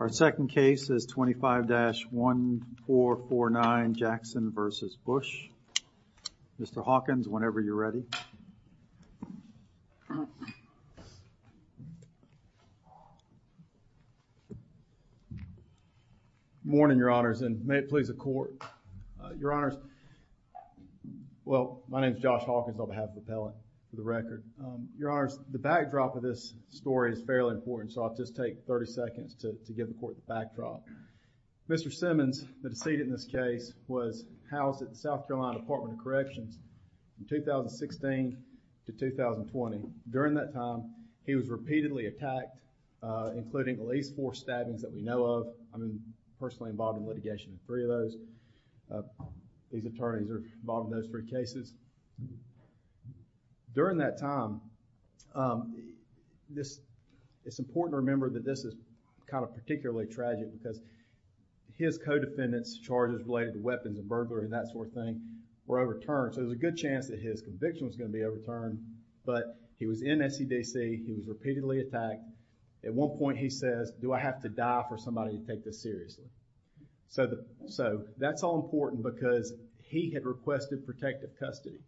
Our second case is 25-1449 Jackson v. Bush. Mr. Hawkins, whenever you're ready. Good morning, your honors, and may it please the court. Your honors, well, my name is Josh Hawkins, and I'm going to give you a little bit of background. The backdrop of this story is fairly important, so I'll just take 30 seconds to give the court the backdrop. Mr. Simmons, the decedent in this case, was housed at the South Carolina Department of Corrections from 2016 to 2020. During that time, he was repeatedly attacked, including at least four stabbings that we know of. I'm personally involved in litigation in three of those. These attorneys are involved in those three cases. During that time, it's important to remember that this is kind of particularly tragic because his co-defendant's charges related to weapons and burglary and that sort of thing were overturned, so there's a good chance that his conviction was going to be overturned, but he was in SCDC, he was repeatedly attacked. At one point, he says, do I have to die for somebody to take this seriously? So, that's all important because he had requested protective custody,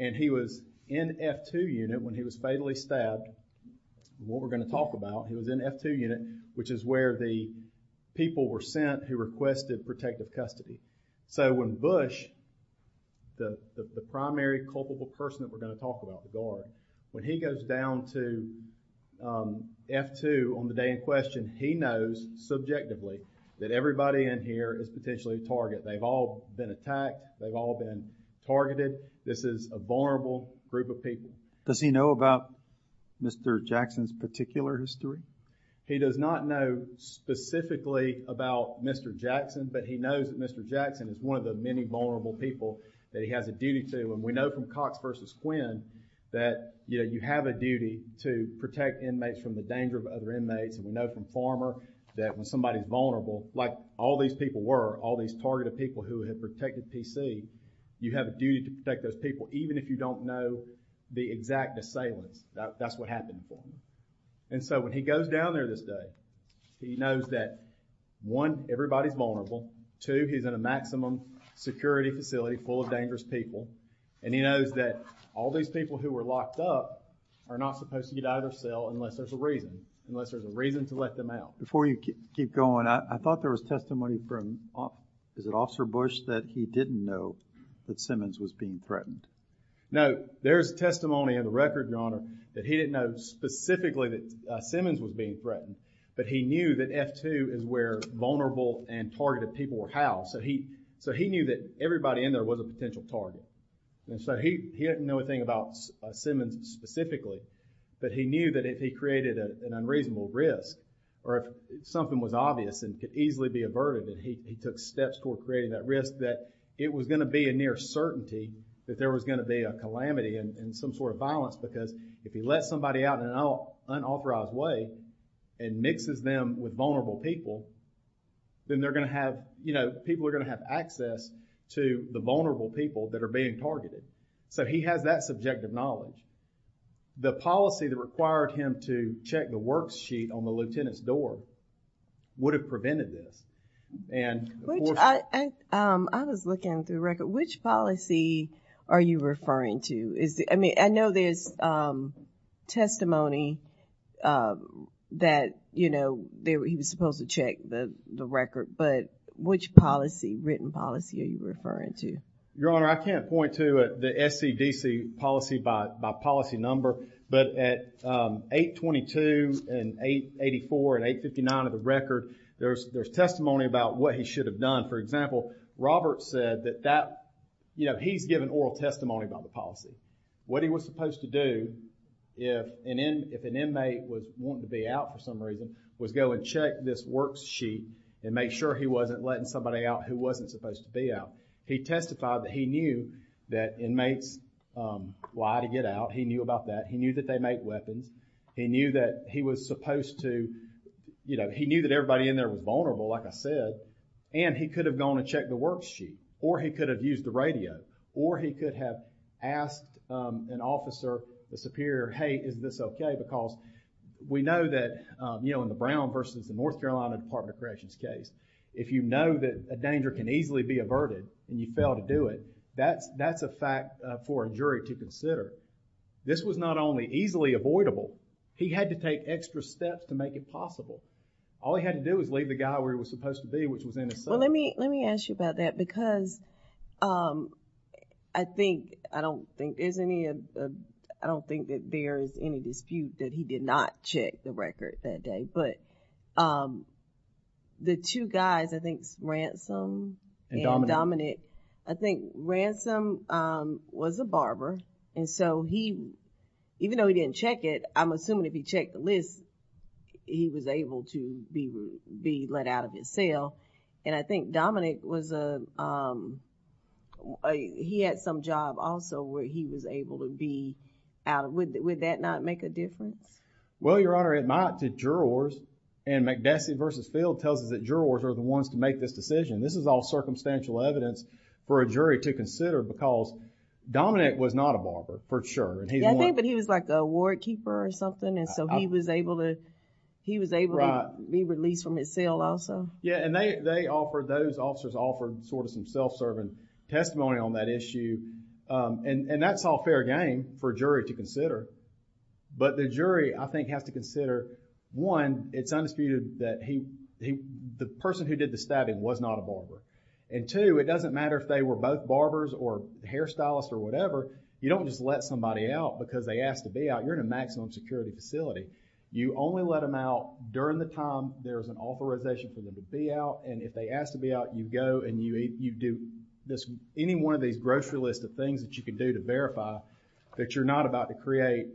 and he was in F-2 unit when he was fatally stabbed. What we're going to talk about, he was in F-2 unit, which is where the people were sent who requested protective custody. So, when Bush, the primary culpable person that we're going to talk about, the guard, when he goes down to F-2 on the day of questioning, he knows subjectively that everybody in here is potentially a target. They've all been attacked. They've all been targeted. This is a vulnerable group of people. Does he know about Mr. Jackson's particular history? He does not know specifically about Mr. Jackson, but he knows that Mr. Jackson is one of the many vulnerable people that he has a duty to, and we know from Cox v. Quinn that you have a duty to protect inmates from the danger of other inmates, and we know from Farmer that when somebody's vulnerable, like all these people were, all these targeted people who had protected P.C., you have a duty to protect those people, even if you don't know the exact assailants. That's what happened for him. And so, when he goes down there this day, he knows that, one, everybody's vulnerable. Two, he's in a maximum security facility full of dangerous people, and he knows that all these people who were locked up are not supposed to get out of their cell unless there's a reason, unless there's a reason to let them out. Before you keep going, I thought there was testimony from, is it Officer Bush, that he didn't know that Simmons was being threatened? No, there's testimony in the record, Your Honor, that he didn't know specifically that Simmons was being threatened, but he knew that F-2 is where vulnerable and targeted people were housed, so he knew that everybody in there was a potential target. And so, he didn't know a thing about Simmons specifically, but he knew that if he created an unreasonable risk or if something was obvious and could easily be averted, that he took steps toward creating that risk, that it was going to be a near certainty that there was going to be a calamity and some sort of violence, because if he lets somebody out in an unauthorized way and mixes them with vulnerable people, then they're going to have, you know, people that are being targeted. So, he has that subjective knowledge. The policy that required him to check the worksheet on the lieutenant's door would have prevented this, and of course- I was looking through the record. Which policy are you referring to? I mean, I know there's testimony that, you know, he was supposed to check the record, but which policy, written policy, are you referring to? Your Honor, I can't point to the SCDC policy by policy number, but at 822 and 884 and 859 of the record, there's testimony about what he should have done. For example, Robert said that that, you know, he's given oral testimony about the policy. What he was supposed to do, if an inmate was wanting to be out for some reason, was go and check this worksheet and make sure he wasn't letting somebody out who wasn't supposed to be out. He testified that he knew that inmates lie to get out. He knew about that. He knew that they make weapons. He knew that he was supposed to, you know, he knew that everybody in there was vulnerable, like I said, and he could have gone and checked the worksheet, or he could have used the radio, or he could have asked an officer, the superior, hey, is this okay, because we know that, you know, in the Brown versus the North Carolina Department of Corrections case, if you know that a danger can easily be averted and you fail to do it, that's a fact for a jury to This was not only easily avoidable, he had to take extra steps to make it possible. All he had to do was leave the guy where he was supposed to be, which was in his cell. Well, let me ask you about that, because I think, I don't think there's any, I don't think that there's any dispute that he did not check the record that day, but the two guys, I think Ransom and Dominic, I think Ransom was a barber, and so he, even though he didn't check it, I'm assuming if he checked the list, he was able to be let out of his cell, and I think Dominic was a, he had some job also where he was able to be out of, would that not make a difference? Well, Your Honor, it might to jurors, and McDessie versus Field tells us that jurors are the ones to make this decision. This is all circumstantial evidence for a jury to consider, because Dominic was not a barber, for sure. Yeah, I think, but he was like a ward keeper or something, and so he was able to, he was able to be released from his cell also. Yeah, and they offered, those officers offered sort of some self-serving testimony on that issue, and that's all fair game for a jury to consider, but the jury, I think, has to consider, one, it's undisputed that he, the person who did the stabbing was not a barber, and two, it doesn't matter if they were both barbers or hairstylists or whatever, you don't just let somebody out because they asked to be out. You're in a maximum security facility. You only let them out during the time there's an authorization for them to be out, and if they ask to be out, you go and you do this, any one of these grocery list of things that you can do to verify that you're not about to create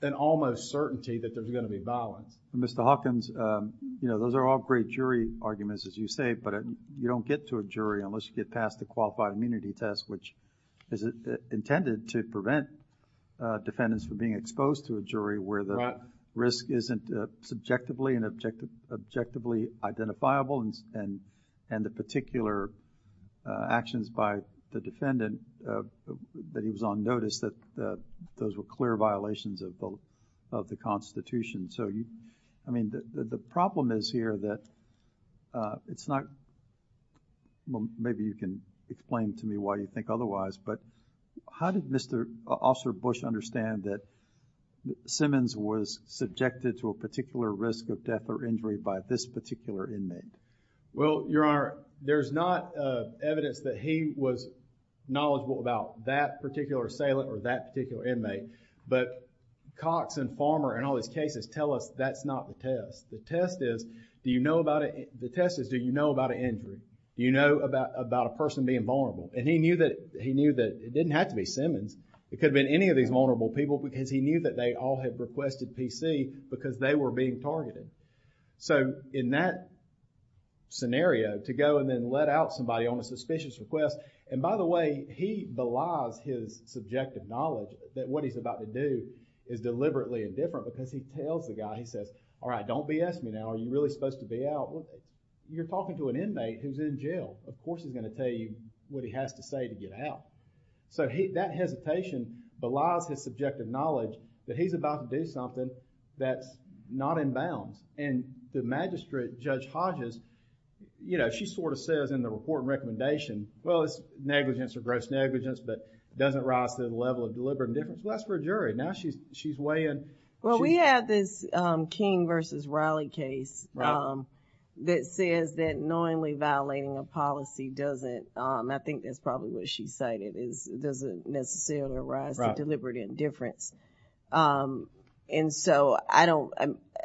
an almost certainty that there's going to be violence. Mr. Hawkins, you know, those are all great jury arguments, as you say, but you don't get to a jury unless you get past the qualified immunity test, which is intended to prevent defendants from being exposed to a jury where the risk isn't subjectively and objectively identifiable, and the particular actions by the defendant that he was on those were clear violations of the Constitution. So you, I mean, the problem is here that it's not, well, maybe you can explain to me why you think otherwise, but how did Mr. Officer Bush understand that Simmons was subjected to a particular risk of death or injury by this particular inmate? Well, Your Honor, there's not evidence that he was knowledgeable about that particular assailant or that particular inmate, but Cox and Farmer and all these cases tell us that's not the test. The test is, do you know about, the test is do you know about an injury? Do you know about a person being vulnerable? And he knew that, he knew that it didn't have to be Simmons. It could have been any of these vulnerable people because he knew that they all had requested PC because they were being targeted. So in that scenario, to go and then let out somebody on a suspicious request, and by the way, he belies his subjective knowledge that what he's about to do is deliberately indifferent because he tells the guy, he says, all right, don't BS me now. Are you really supposed to be out? You're talking to an inmate who's in jail. Of course he's going to tell you what he has to say to get out. So that hesitation belies his subjective knowledge that he's about to do something that's not in bounds. And the magistrate, Judge Hodges, you know, she sort of says in the report and recommendation, well, it's negligence or gross negligence, but it doesn't rise to the level of deliberate indifference. Well, that's for a jury. Now, she's weighing... Well, we have this King versus Riley case that says that knowingly violating a policy doesn't, I think that's probably what she cited, is it doesn't necessarily rise to the level of deliberate indifference. And so I don't,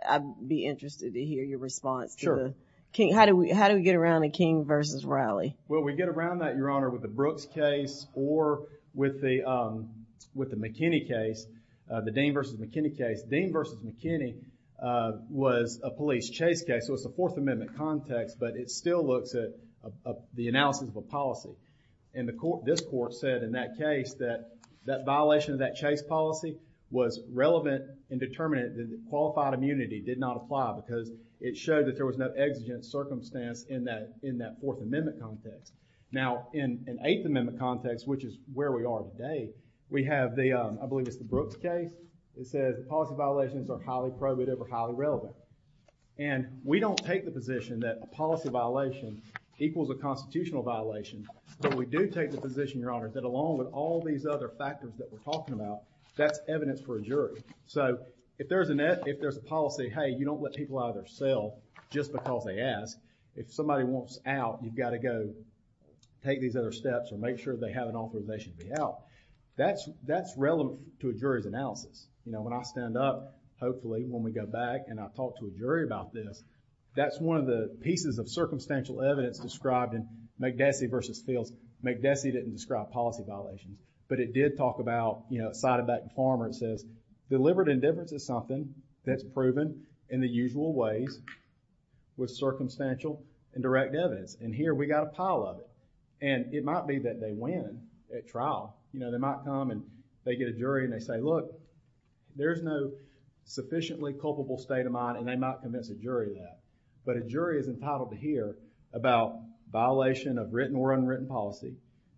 I'd be interested to hear your response to the King. How do we get around a King versus Riley? Well, we get around that, Your Honor, with the Brooks case or with the McKinney case, the Dean versus McKinney case. Dean versus McKinney was a police chase case, so it's a Fourth Amendment context, but it still looks at the analysis of a policy. And the court, this court, said in that case that that violation of that chase policy was relevant and determined that qualified immunity did not apply because it showed that there was no exigent circumstance in that Fourth Amendment context. Now, in an Eighth Amendment context, which is where we are today, we have the, I believe it's the Brooks case, it says policy violations are highly probative or highly relevant. And we don't take the position that policy violation equals a constitutional violation, but we do take the position, Your Honor, that along with all these other factors that we're talking about, that's evidence for a jury. So, if there's a net, if there's a policy, hey, you don't let people out of their cell just because they ask. If somebody wants out, you've got to go take these other steps and make sure they have an authorization to be out. That's, that's relevant to a jury's analysis. You know, when I stand up, hopefully when we go back and I talk to a jury about this, that's one of the pieces of circumstantial evidence described in McDessie v. Fields. McDessie didn't describe policy violations, but it did talk about, you know, a side of that form where it says, deliberate indifference is something that's proven in the usual ways with circumstantial and direct evidence. And here we got a pile of it. And it might be that they win at trial. You know, they might come and they get a jury and they say, look, there's no sufficiently culpable state of mind, and they might convince a jury of that. But a jury is entitled to hear about violation of written or unwritten policy,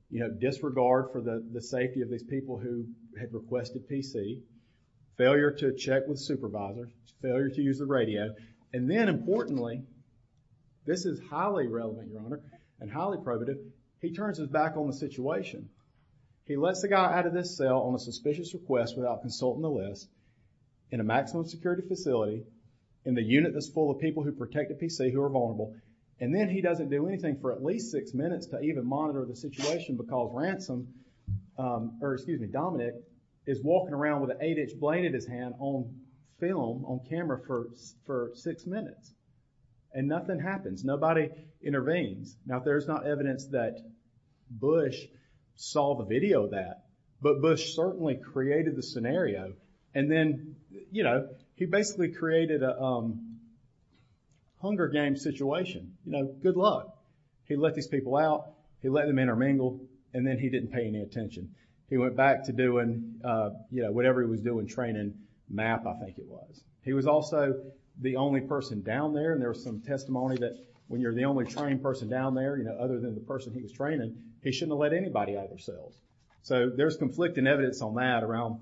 you know, disregard for the safety of these people who had requested PC, failure to check with supervisors, failure to use the radio, and then importantly, this is highly relevant, Your Honor, and highly probative, he turns his back on the situation. He lets the guy out of this cell on a suspicious request without consulting the list, in a maximum security facility, in the unit that's full of people who protect the PC who are vulnerable. And then he doesn't do anything for at least six minutes to even monitor the situation because Ransom, or excuse me, Dominic, is walking around with an eight-inch blade in his hand on film, on camera for six minutes. And nothing happens. Nobody intervenes. Now, there's not evidence that Bush saw the video of that, but Bush certainly created the scenario, and then, you know, he basically created a Hunger Games situation. You know, good luck. He let these people out. He let them intermingle, and then he didn't pay any attention. He went back to doing, you know, whatever he was doing, training, math, I think it was. He was also the only person down there, and there's some testimony that when you're the only trained person down there, you know, other than the person he was with, there's conflicting evidence on that around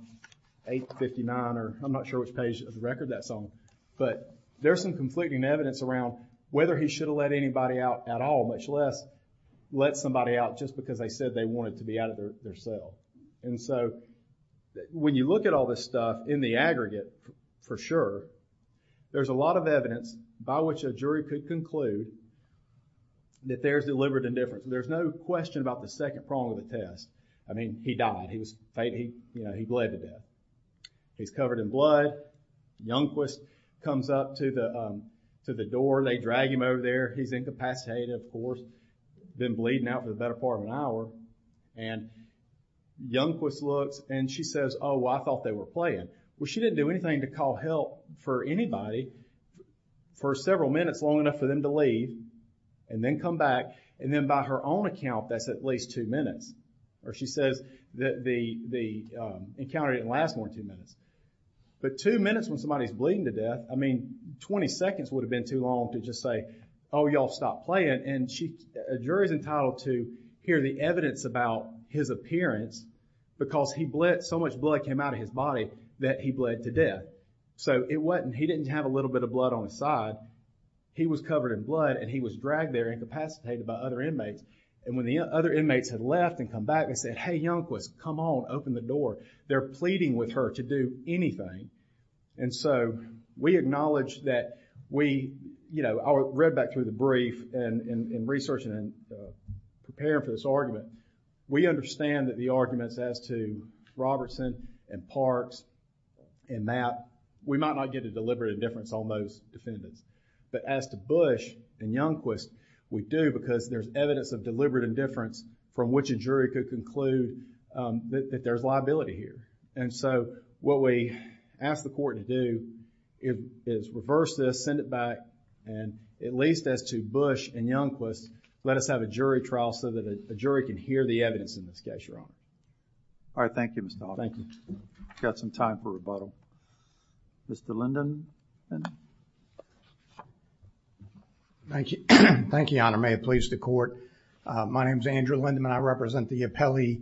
8 to 59, or I'm not sure which page of the record that's on, but there's some conflicting evidence around whether he should have let anybody out at all, much less let somebody out just because they said they wanted to be out of their cell. And so, when you look at all this stuff in the aggregate, for sure, there's a lot of evidence by which a jury could conclude that there's deliberate indifference. There's no question about the second prong of the test. I mean, he died. He was, you know, he bled to death. He's covered in blood. Youngquist comes up to the door. They drag him over there. He's incapacitated, of course, been bleeding out for the better part of an hour, and Youngquist looks, and she says, oh, I thought they were playing. Well, she didn't do anything to call help for anybody for several minutes, long enough for them to leave, and then come back, and then by her own count, that's at least two minutes, or she says that the encounter didn't last more than two minutes, but two minutes when somebody's bleeding to death, I mean, 20 seconds would have been too long to just say, oh, y'all stop playing, and a jury's entitled to hear the evidence about his appearance because he bled, so much blood came out of his body that he bled to death, so it wasn't, he didn't have a little bit of blood on his side. He was covered in blood, and he was dragged there, incapacitated by other inmates, and when the other inmates had left and come back, they said, hey, Youngquist, come on, open the door. They're pleading with her to do anything, and so we acknowledge that we, you know, I read back through the brief and in researching and preparing for this argument, we understand that the arguments as to Robertson and Parks and that, we might not get a deliberate indifference on those defendants, but as to Bush and Youngquist, we do because there's evidence of deliberate indifference from which a jury could conclude that there's liability here, and so what we ask the court to do is reverse this, send it back, and at least as to Bush and Youngquist, let us have a jury trial so that a jury can hear the evidence in this case, Your Honor. All right, thank you, Mr. Todd. Thank you. We've got some time for rebuttal. Mr. Linden. Thank you. Thank you, Your Honor. May it please the court. My name is Andrew Linden, and I represent the appellee,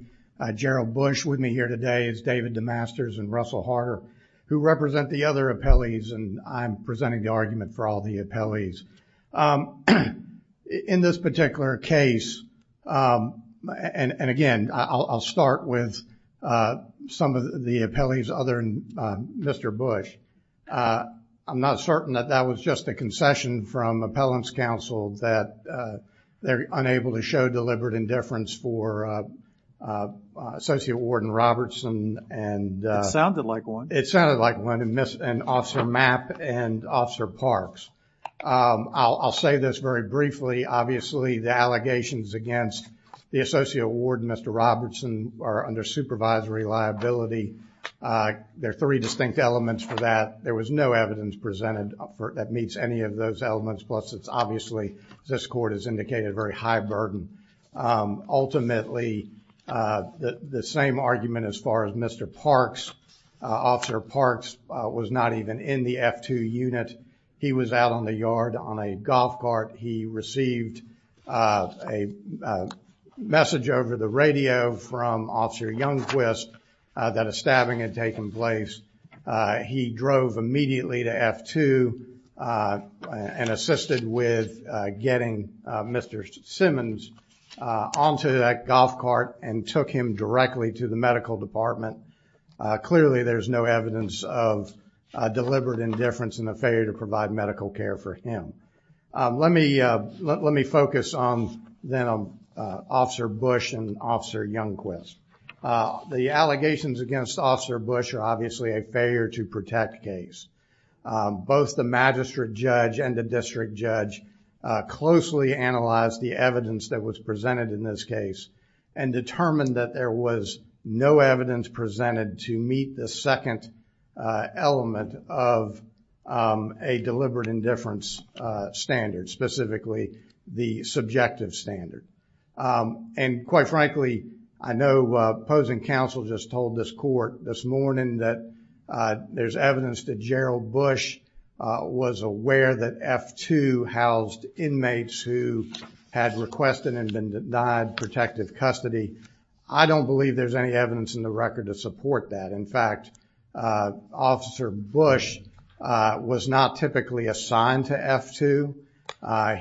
Gerald Bush, with me here today is David DeMasters and Russell Harder, who represent the other appellees, and I'm presenting the argument for all the appellees. In this particular case, and again, I'll start with some of the appellees other than Mr. Bush. I'm not certain that that was just a concession from appellant's counsel that they're unable to show deliberate indifference for Associate Warden Robertson and... It sounded like one. It sounded like one, and Officer Mapp and Officer Parks. I'll say this very briefly. Obviously, the allegations against the Associate Warden, Mr. Robertson, are under supervisory liability. There are three distinct elements for that. There was no evidence presented that meets any of those elements, plus it's obviously, as this court has indicated, very high burden. Ultimately, the same argument as far as Mr. Parks, Officer Parks was not even in the F-2 unit. He was out on the yard on a golf cart. He received a message over the radio from Officer Youngquist that a stabbing had taken place. He drove immediately to F-2 and assisted with getting Mr. Simmons onto that golf cart and took him directly to the medical department. Clearly, there's no evidence of deliberate indifference in the failure to provide medical care for him. Let me focus on Officer Bush and Officer Youngquist. The allegations against Officer Bush are obviously a failure to protect case. Both the magistrate judge and the district judge closely analyzed the evidence that was presented in this case and determined that there was no evidence presented to meet the second element of a deliberate indifference standard, specifically the subjective standard. And quite frankly, I know opposing counsel just told this court this morning that there's evidence that Gerald Bush was aware that F-2 housed inmates who had requested and been denied protective custody. I don't believe there's any evidence in the record to support that. In fact, Officer Bush was not typically assigned to F-2.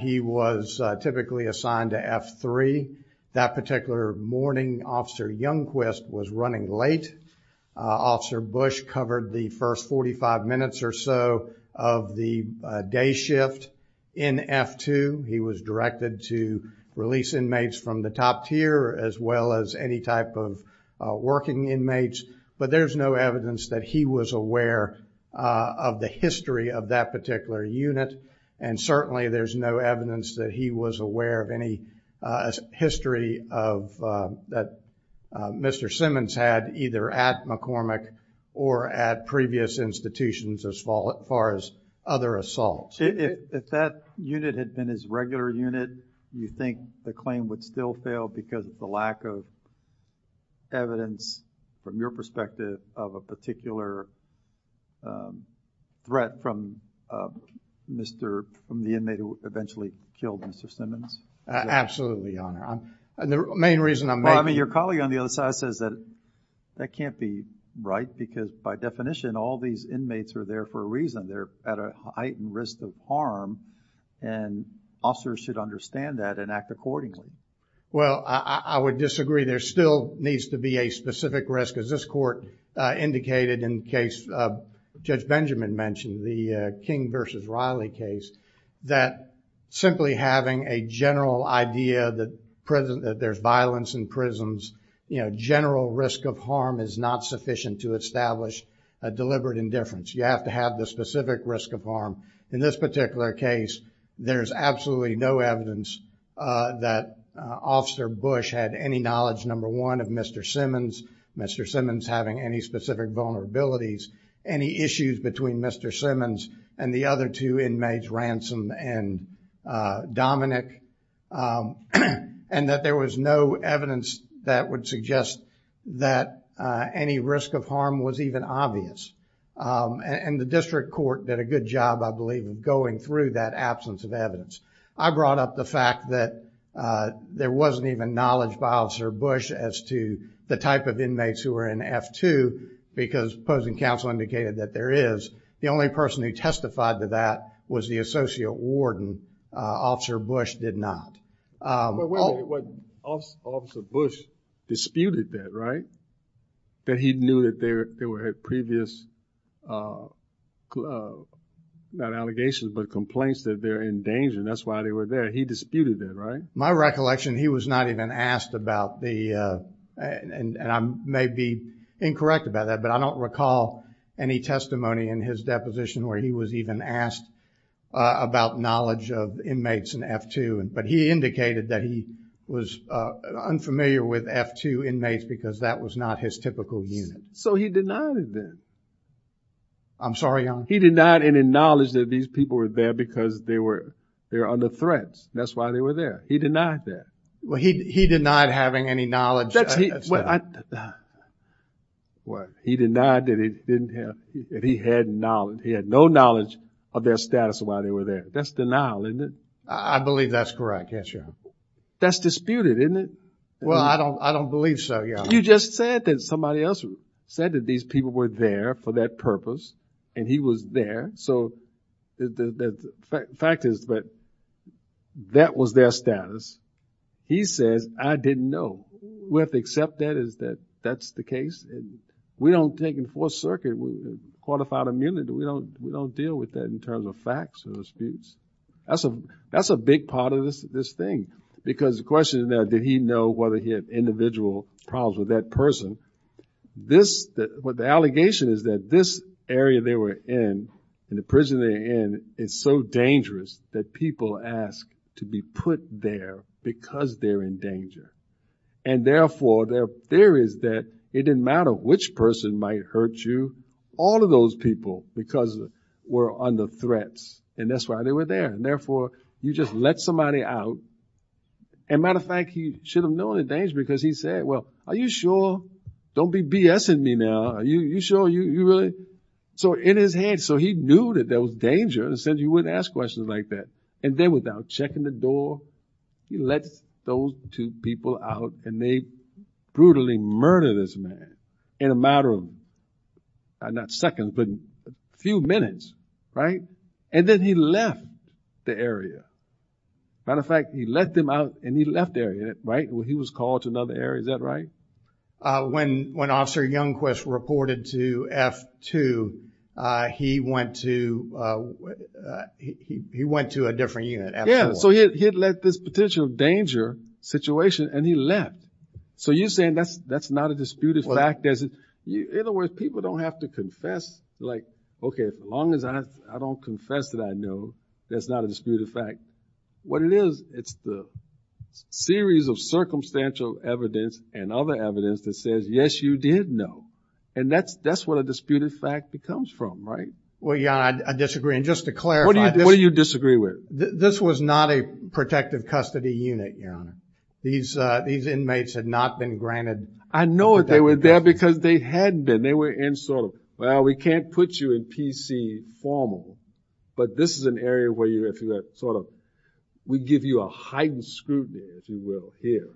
He was typically assigned to F-3. That particular morning, Officer Youngquist was running late. Officer Bush covered the first 45 minutes or so of the day shift in F-2. He was directed to release inmates from the top tier as well as any type of working inmates. But there's no evidence that he was aware of the history of that particular unit. And certainly there's no evidence that he was aware of any history of that Mr. Simmons had either at McCormick or at previous institutions as far as other assaults. If that unit had been his regular unit, you think the claim would still fail because of the lack of evidence from your perspective of a particular threat from the inmate who eventually killed Mr. Simmons? Absolutely, Your Honor. And the main reason I'm making... I mean, your colleague on the other side says that that can't be right because by definition, all these inmates are there for a reason. They're at a heightened risk of harm. And officers should understand that and act accordingly. Well, I would disagree. There still needs to be a specific risk. As this court indicated in the case Judge Benjamin mentioned, the King versus Riley case, that simply having a general idea that there's violence in prisons, general risk of harm is not sufficient to establish a deliberate indifference. You have to have the specific risk of harm. In this particular case, there's absolutely no evidence that Officer Bush had any knowledge, number one, of Mr. Simmons, Mr. Simmons having any specific vulnerabilities, any issues between Mr. Simmons and the other two inmates, Ransom and Dominick, and that there was no evidence that would suggest that any risk of harm was even obvious. And the district court did a good job, I believe, of going through that absence of evidence. I brought up the fact that there wasn't even knowledge by Officer Bush as to the type of inmates who were in F-2 because opposing counsel indicated that there is. The only person who testified to that was the associate warden. Officer Bush did not. Wait a minute. Officer Bush disputed that, right? That he knew there were previous, not allegations, but complaints that they're in danger. That's why they were there. He disputed that, right? My recollection, he was not even asked about the, and I may be incorrect about that, but I don't recall any testimony in his deposition where he was even asked about knowledge of inmates in F-2. But he indicated that he was unfamiliar with F-2 inmates because that was not his typical unit. So he denied it then? I'm sorry, Your Honor? He denied any knowledge that these people were there because they were under threat. That's why they were there. He denied that. Well, he denied having any knowledge. He denied that he had no knowledge of their status while they were there. That's denial, isn't it? I believe that's correct, yes, Your Honor. That's disputed, isn't it? Well, I don't believe so, Your Honor. You just said that somebody else said that these people were there for that purpose and he was there. So the fact is that that was their status. He says, I didn't know. We have to accept that as that that's the case. And we don't take in Fourth Circuit qualified immunity. We don't deal with that in terms of facts or disputes. That's a big part of this thing. Because the question is now, did he know whether he had individual problems with that person? The allegation is that this area they were in, in the prison they're in, is so dangerous that people ask to be put there because they're in danger. And therefore, their theory is that it didn't matter which person might hurt you, all of those people because we're under threats. And that's why they were there. And therefore, you just let somebody out. And matter of fact, he should have known the danger because he said, well, are you sure? Don't be BSing me now. Are you sure? You really? So in his head, so he knew that there was danger and said you wouldn't ask questions like that. And then without checking the door, he lets those two people out and they brutally murder this man in a matter of not seconds, but a few minutes, right? And then he left the area. Matter of fact, he let them out and he left the area, right? He was called to another area. Is that right? When Officer Youngquist reported to F-2, he went to a different unit. Yeah. So he had let this potential danger situation and he left. So you're saying that's not a disputed fact? In other words, people don't have to confess like, okay, as long as I don't confess that I know that's not a disputed fact. What it is, it's the series of circumstantial evidence and other evidence that says, yes, you did know. And that's what a disputed fact becomes from, right? Well, yeah, I disagree. And just to clarify. What do you disagree with? This was not a protective custody unit, Your Honor. These inmates had not been granted... I know it. They were there because they hadn't been. They were in sort of, well, we can't put you in PC formal, but this is an area where you sort of, we give you a heightened scrutiny, if you will, here.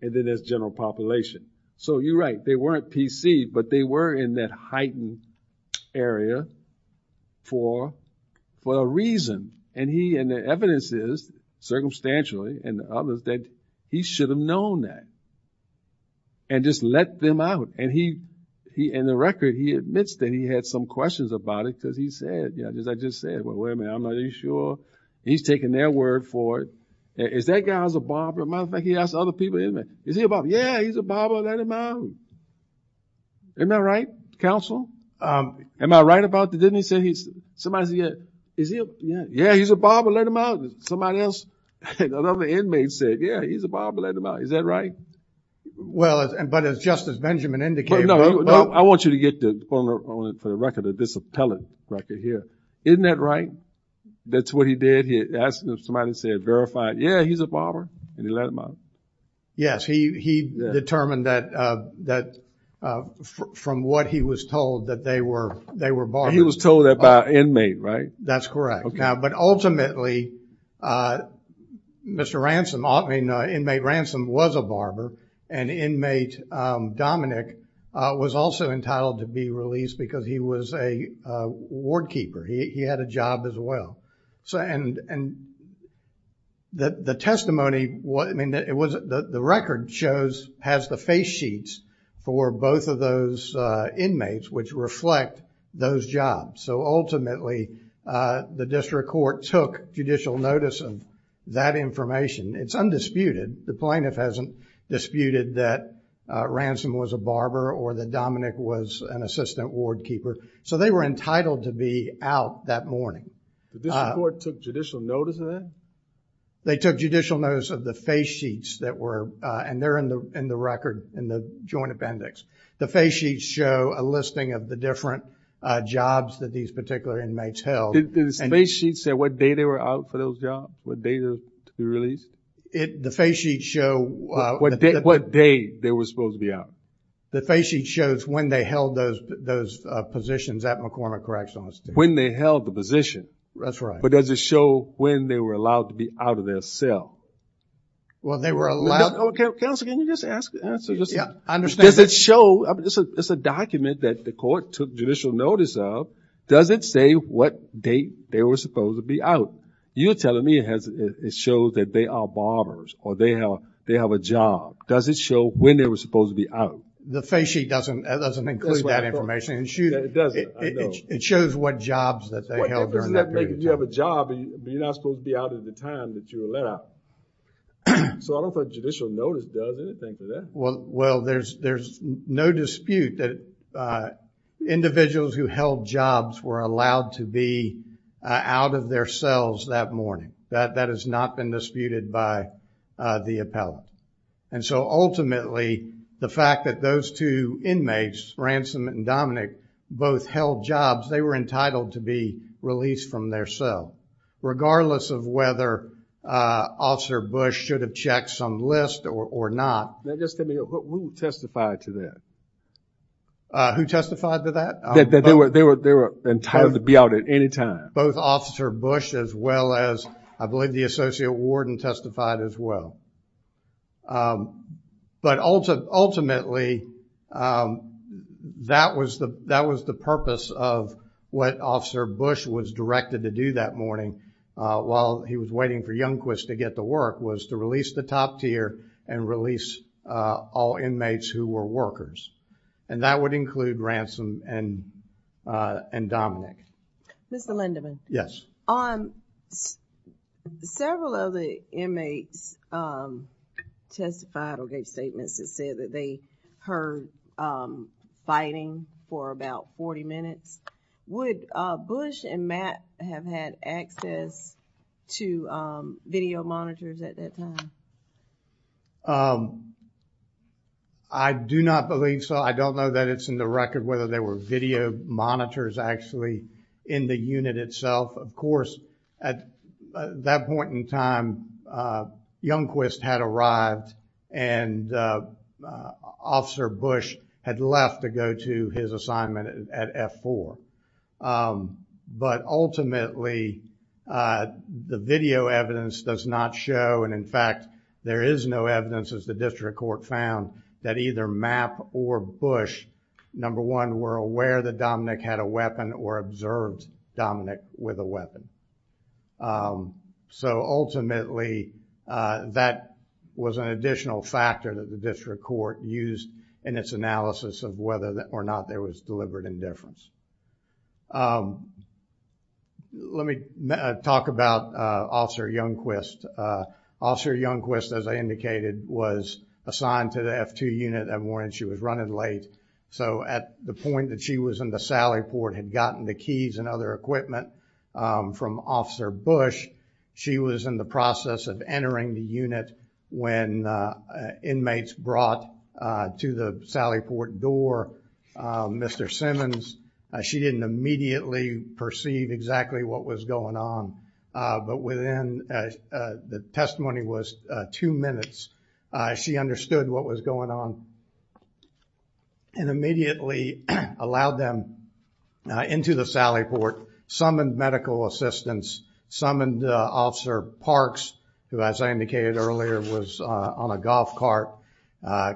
And then there's general population. So you're right. They weren't PC, but they were in that heightened area for a reason. And the evidence is, circumstantially, and others, that he should have known that and just let them out. And he, in the record, he admits that he had some questions about it because he said, yeah, as I just said, well, wait a minute, I'm not even sure. He's taking their word for it. Is that guy's a barber? As a matter of fact, he asked other people, isn't he? Is he a barber? Yeah, he's a barber. Let him out. Isn't that right, counsel? Am I right about that? Didn't he say he's, somebody said, yeah, he's a barber, let him out. Somebody else, another inmate said, yeah, he's a barber, let him out. Is that right? Well, but as Justice Benjamin indicated. I want you to get the, for the record, this appellate record here. Isn't that right? That's what he did. He asked, somebody said, verified, yeah, he's a barber, and he let him out. Yes, he determined that, from what he was told, that they were barbers. He was told that by an inmate, right? That's correct. Now, but ultimately, Mr. Ransom, I mean, inmate Ransom was a barber, and inmate Dominic was also entitled to be released because he was a ward keeper. He had a job as well. And the testimony, I mean, it was, the record shows, has the face sheets for both of those inmates, which reflect those jobs. So, ultimately, the district court took judicial notice of that information. It's undisputed. The plaintiff hasn't disputed that Ransom was a barber or that Dominic was an assistant ward keeper. So, they were entitled to be out that morning. The district court took judicial notice of that? They took judicial notice of the face sheets that were, and they're in the record, in the joint appendix. The face sheets show a listing of the different jobs that these particular inmates held. Do the face sheets say what day they were out for those jobs, what day they were to be released? The face sheets show what day they were supposed to be out. The face sheet shows when they held those positions at McCormick Correctional Institution. When they held the position. That's right. But does it show when they were allowed to be out of their cell? Well, they were allowed. Counsel, can you just ask the answer? Yeah, I understand. Does it show, it's a document that the court took judicial notice of, does it say what date they were supposed to be out? You're telling me it shows that they are barbers or they have a job. Does it show when they were supposed to be out? The face sheet doesn't include that information. It doesn't, I know. What difference does that make if you have a job and you're not supposed to be out at the time that you were let out? So I don't think judicial notice does anything to that. Well, there's no dispute that individuals who held jobs were allowed to be out of their cells that morning. That has not been disputed by the appellate. And so ultimately, the fact that those two inmates, Ransom and Dominic, both held jobs, they were entitled to be released from their cell. Regardless of whether Officer Bush should have checked some list or not. Now just tell me, who testified to that? Who testified to that? They were entitled to be out at any time. Both Officer Bush as well as, I believe, the Associate Warden testified as well. But ultimately, that was the purpose of what Officer Bush was directed to do that morning while he was waiting for Youngquist to get to work, was to release the top tier and release all inmates who were workers. And that would include Ransom and Dominic. Mr. Lindeman. Yes. On several of the inmates testified or gave statements that said that they heard fighting for about 40 minutes. Would Bush and Matt have had access to video monitors at that time? I do not believe so. I don't know that it's in the record whether there were video monitors actually in the unit itself. Of course, at that point in time, Youngquist had arrived and Officer Bush had left to go to his assignment at F4. But ultimately, the video evidence does not show, and in fact, there is no evidence as the district court found, that either Matt or Bush, number one, were aware that Dominic had a weapon or observed Dominic with a weapon. So ultimately, that was an additional factor that the district court used in its analysis of whether or not there was deliberate indifference. Let me talk about Officer Youngquist. Officer Youngquist, as I indicated, was assigned to the F2 unit that morning. She was running late, so at the point that she was in the sally port, had gotten the keys and other equipment from Officer Bush, she was in the process of entering the unit when inmates brought to the sally port door. Mr. Simmons, she didn't immediately perceive exactly what was going on, but within, the testimony was two minutes, she understood what was going on and immediately allowed them into the sally port, summoned medical assistance, summoned Officer Parks, who, as I indicated earlier, was on a golf cart,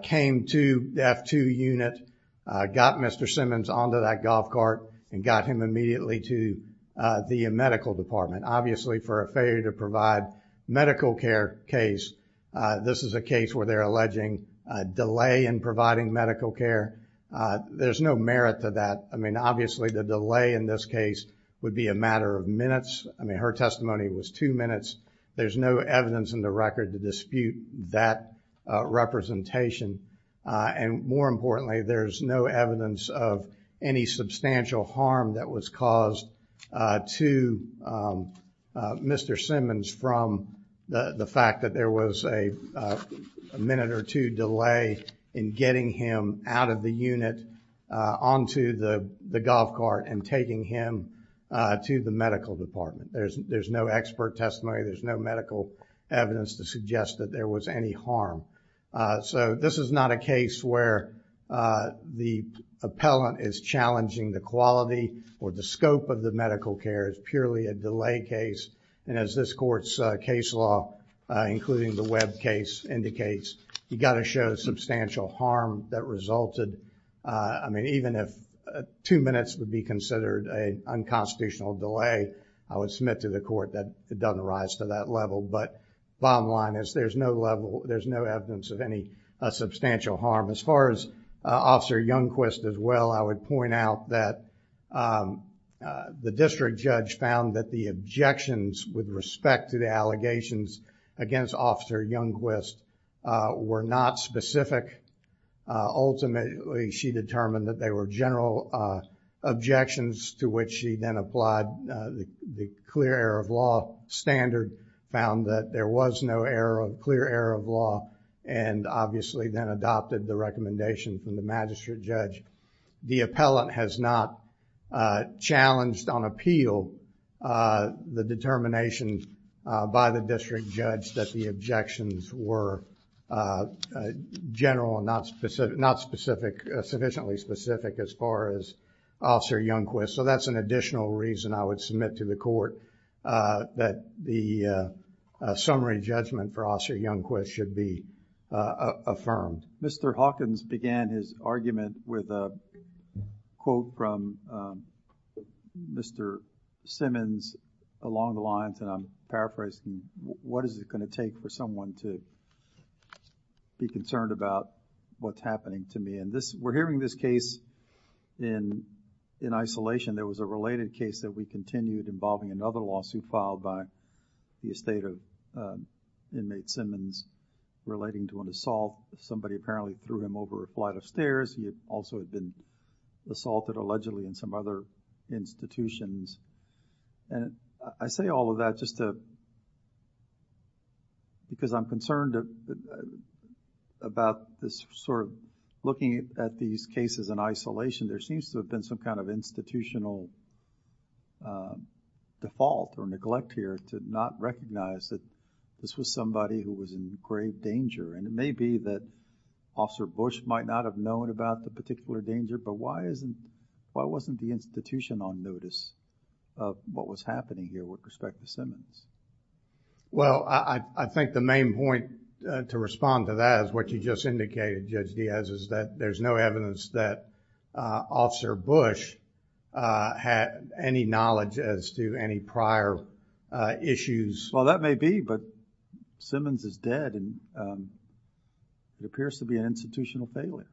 came to the F2 unit, got Mr. Simmons onto that golf cart, and got him immediately to the medical department. For a failure to provide medical care case, this is a case where they're alleging delay in providing medical care. There's no merit to that. Obviously, the delay in this case would be a matter of minutes. Her testimony was two minutes. There's no evidence in the record to dispute that representation. More importantly, there's no evidence of any substantial harm that was caused to Mr. Simmons from the fact that there was a minute or two delay in getting him out of the unit onto the golf cart and taking him to the medical department. There's no expert testimony. There's no medical evidence to suggest that there was any harm. So, this is not a case where the appellant is challenging the quality or the scope of the medical care. It's purely a delay case. And as this Court's case law, including the Webb case, indicates, you've got to show substantial harm that resulted. I mean, even if two minutes would be considered an unconstitutional delay, I would submit to the Court that it doesn't rise to that level. But bottom line is, there's no evidence of any substantial harm. As far as Officer Youngquist as well, I would point out that the district judge found that the objections with respect to the allegations against Officer Youngquist were not specific. Ultimately, she determined that they were general objections to which she then applied the clear error of law standard, found that there was no clear error of law, and obviously then adopted the recommendation from the magistrate judge. The appellant has not challenged on appeal the determination by the district judge that the objections were general and not specific, sufficiently specific as far as Officer Youngquist. So that's an additional reason I would submit to the Court that the summary judgment for Officer Youngquist should be affirmed. Mr. Hawkins began his argument with a quote from Mr. Simmons along the lines, and I'm paraphrasing, what is it going to take for someone to be concerned about what's happening to me? And we're hearing this case in isolation. There was a related case that we continued involving another lawsuit filed by the estate of inmate Simmons relating to an assault. Somebody apparently threw him over a flight of stairs. He also had been assaulted allegedly in some other institutions. And I say all of that just to, because I'm concerned about this sort of looking at these cases in isolation. There seems to have been some kind of institutional default or neglect here to not recognize that this was somebody who was in grave danger. And it may be that Officer Bush might not have known about the particular danger, but why isn't, why wasn't the institution on notice of what was happening here with respect to Simmons? Well, I think the main point to respond to that is what you just indicated, Judge Diaz, is that there's no evidence that Officer Bush had any knowledge as to any prior issues. Well, that may be, but Simmons is dead and it appears to be an institutional failure.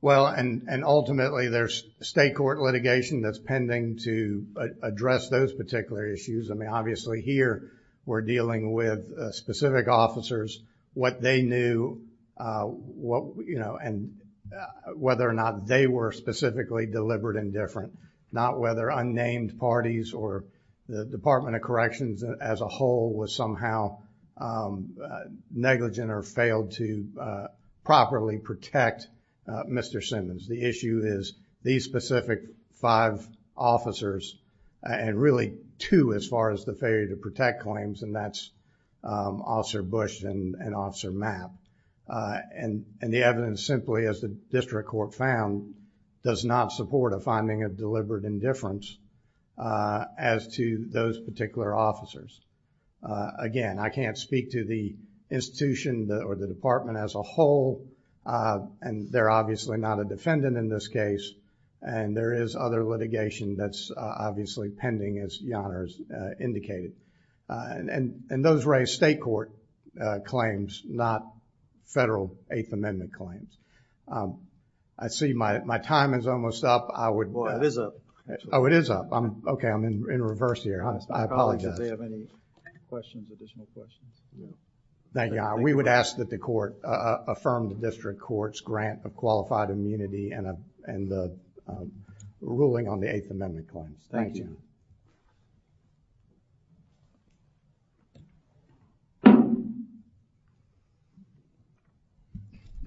Well, and, and ultimately there's state court litigation that's pending to address those particular issues. I mean, obviously here we're dealing with specific officers, what they knew, what, you know, and whether or not they were specifically deliberate and different, not whether unnamed parties or the Department of Corrections as a whole was somehow negligent or failed to properly protect Mr. Simmons. The issue is these specific five officers and really two as far as the failure to protect claims, and that's Officer Bush and Officer Mapp. And, and the evidence simply as the district court found does not support a finding of deliberate indifference as to those particular officers. Again, I can't speak to the institution or the department as a whole, and they're obviously not a defendant in this case, and there is other litigation that's obviously pending as Yonah has indicated. And, and, and those were a state court claims, not federal Eighth Amendment claims. Um, I see my, my time is almost up. I would... Well, it is up. Oh, it is up. I'm, okay, I'm in, in reverse here. I apologize. Do you have any questions, additional questions? Thank you. We would ask that the court, uh, affirm the district court's grant of qualified immunity and, uh, and, uh, ruling on the Eighth Amendment claims. Thank you.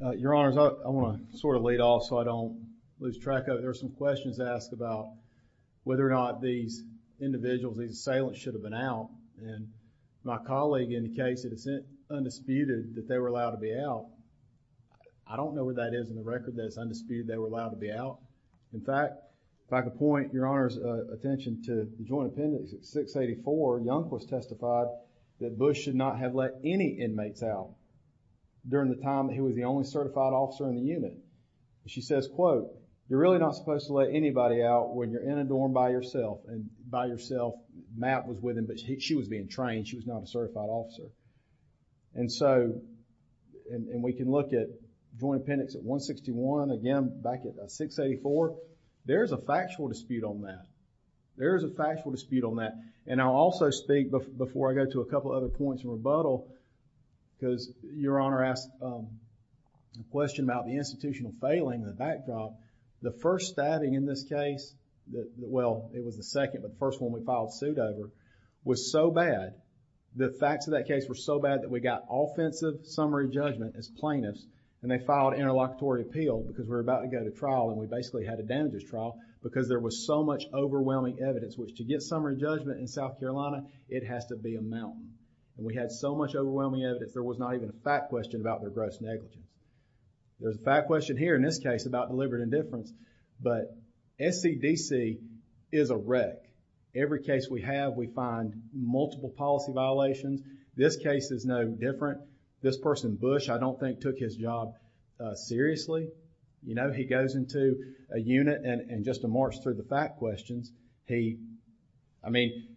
Uh, Your Honors, I, I want to sort of lead off so I don't lose track of it. There are some questions asked about whether or not these individuals, these assailants should have been out, and my colleague indicates that it's undisputed that they were allowed to be out. I don't know what that is in the record that it's undisputed they were allowed to be out. In fact, if I could point Your Honor's, uh, attention to Joint Appendix at 684, Young was testified that Bush should not have let any inmates out during the time that he was the only certified officer in the unit. She says, quote, you're really not supposed to let anybody out when you're in a dorm by yourself, and by yourself, Matt was with him, but he, she was being trained. She was not a certified officer. And so, and, and we can look at Joint Appendix at 161, again, back at 684, there's a factual dispute on that. There's a factual dispute on that, and I'll also speak before I go to a couple other points in rebuttal because Your Honor asked, um, a question about the institutional failing and the backdrop. The first statting in this case, well, it was the second, but the first one we filed suit over was so bad, the facts of that case were so bad that we got offensive summary judgment as plaintiffs, and they filed interlocutory appeal because we basically had a damages trial because there was so much overwhelming evidence, which to get summary judgment in South Carolina, it has to be a mountain. And we had so much overwhelming evidence, there was not even a fact question about their gross negligence. There's a fact question here in this case about deliberate indifference, but SCDC is a wreck. Every case we have, we find multiple policy violations. This case is no different. This person, Bush, I don't think took his job, uh, seriously. You know, he goes into a unit and, and just to march through the fact questions, he, I mean,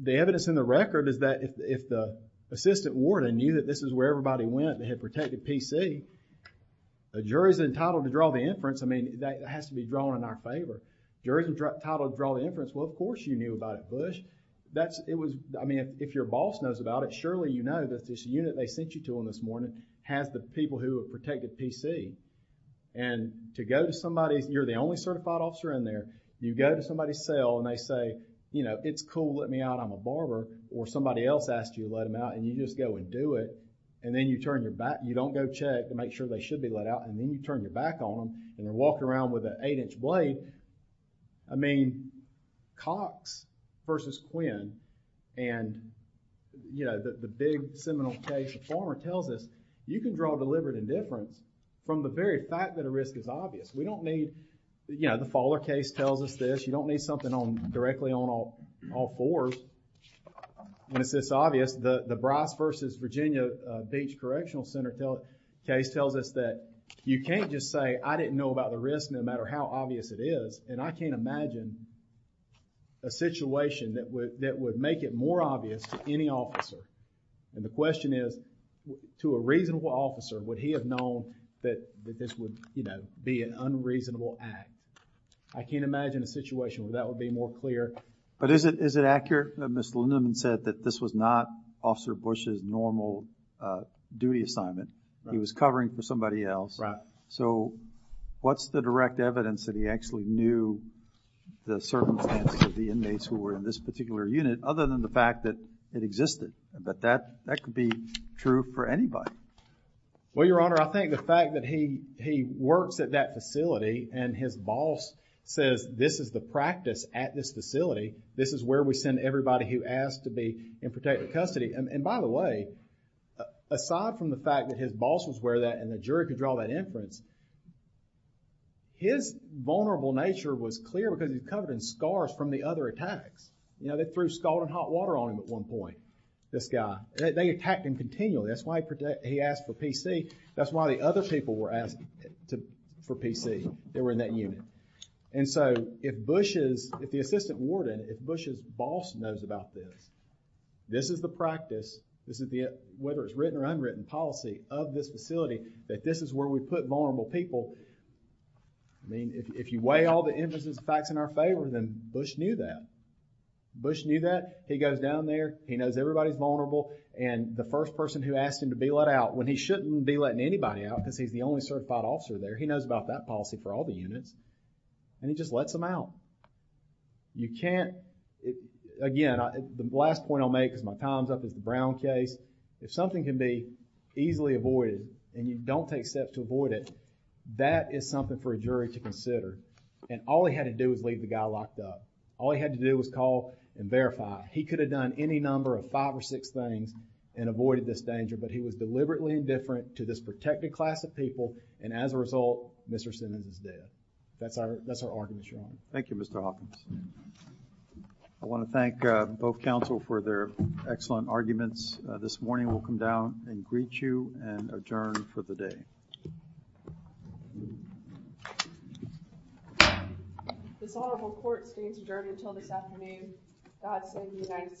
the evidence in the record is that if, if the assistant warden knew that this is where everybody went and had protected P.C., a jury's entitled to draw the inference. I mean, that has to be drawn in our favor. Jury's entitled to draw the inference, well, of course you knew about it, Bush. That's, it was, I mean, if your boss knows about it, surely you know that this unit they sent you to on this has the people who have protected P.C. And to go to somebody's, you're the only certified officer in there, you go to somebody's cell and they say, you know, it's cool, let me out, I'm a barber, or somebody else asked you to let them out and you just go and do it, and then you turn your back, you don't go check to make sure they should be let out, and then you turn your back on them and walk around with an eight-inch blade. I mean, Cox versus Quinn and, you know, the, big seminal case, the former tells us you can draw deliberate indifference from the very fact that a risk is obvious. We don't need, you know, the Fowler case tells us this, you don't need something on, directly on all fours when it's this obvious. The Bryce versus Virginia Beach Correctional Center case tells us that you can't just say, I didn't know about the risk no matter how obvious it is, and I can't imagine a situation that would make it more obvious to any officer. And the question is, to a reasonable officer, would he have known that this would, you know, be an unreasonable act? I can't imagine a situation where that would be more clear. But is it, is it accurate that Ms. Lindeman said that this was not Officer Bush's normal duty assignment? He was covering for somebody else. Right. So, what's the direct evidence that he actually knew the circumstances of the inmates who were other than the fact that it existed, that that could be true for anybody? Well, Your Honor, I think the fact that he works at that facility and his boss says this is the practice at this facility, this is where we send everybody who asks to be in protected custody. And by the way, aside from the fact that his boss was aware of that and the jury could draw that inference, his vulnerable nature was clear because he was covered in scars from the other attacks. You know, they threw scalding hot water on him at one point, this guy. They attacked him continually. That's why he asked for PC. That's why the other people were asking for PC. They were in that unit. And so, if Bush's, if the Assistant Warden, if Bush's boss knows about this, this is the practice, this is the, whether it's written or unwritten policy of this facility, that this is where we put vulnerable people. I mean, if you weigh all the inferences and facts in our favor, then Bush knew that. Bush knew that. He goes down there, he knows everybody's vulnerable and the first person who asked him to be let out when he shouldn't be letting anybody out because he's the only certified officer there, he knows about that policy for all the units and he just lets them out. You can't, again, the last point I'll make because my time's up is the Brown case. If something can be easily avoided and you don't take steps to avoid it, that is something for a jury to consider and all he had to do was leave the guy locked up. All he had to do was call and verify. He could have done any number of five or six things and avoided this danger, but he was deliberately indifferent to this protected class of people and as a result, Mr. Simmons is dead. That's our, that's our argument, Your Honor. Thank you, Mr. Hawkins. I want to thank both counsel for their excellent arguments. This morning, we'll come down and greet you and adjourn for the day. This honorable court stays adjourned until this afternoon. God save the United States.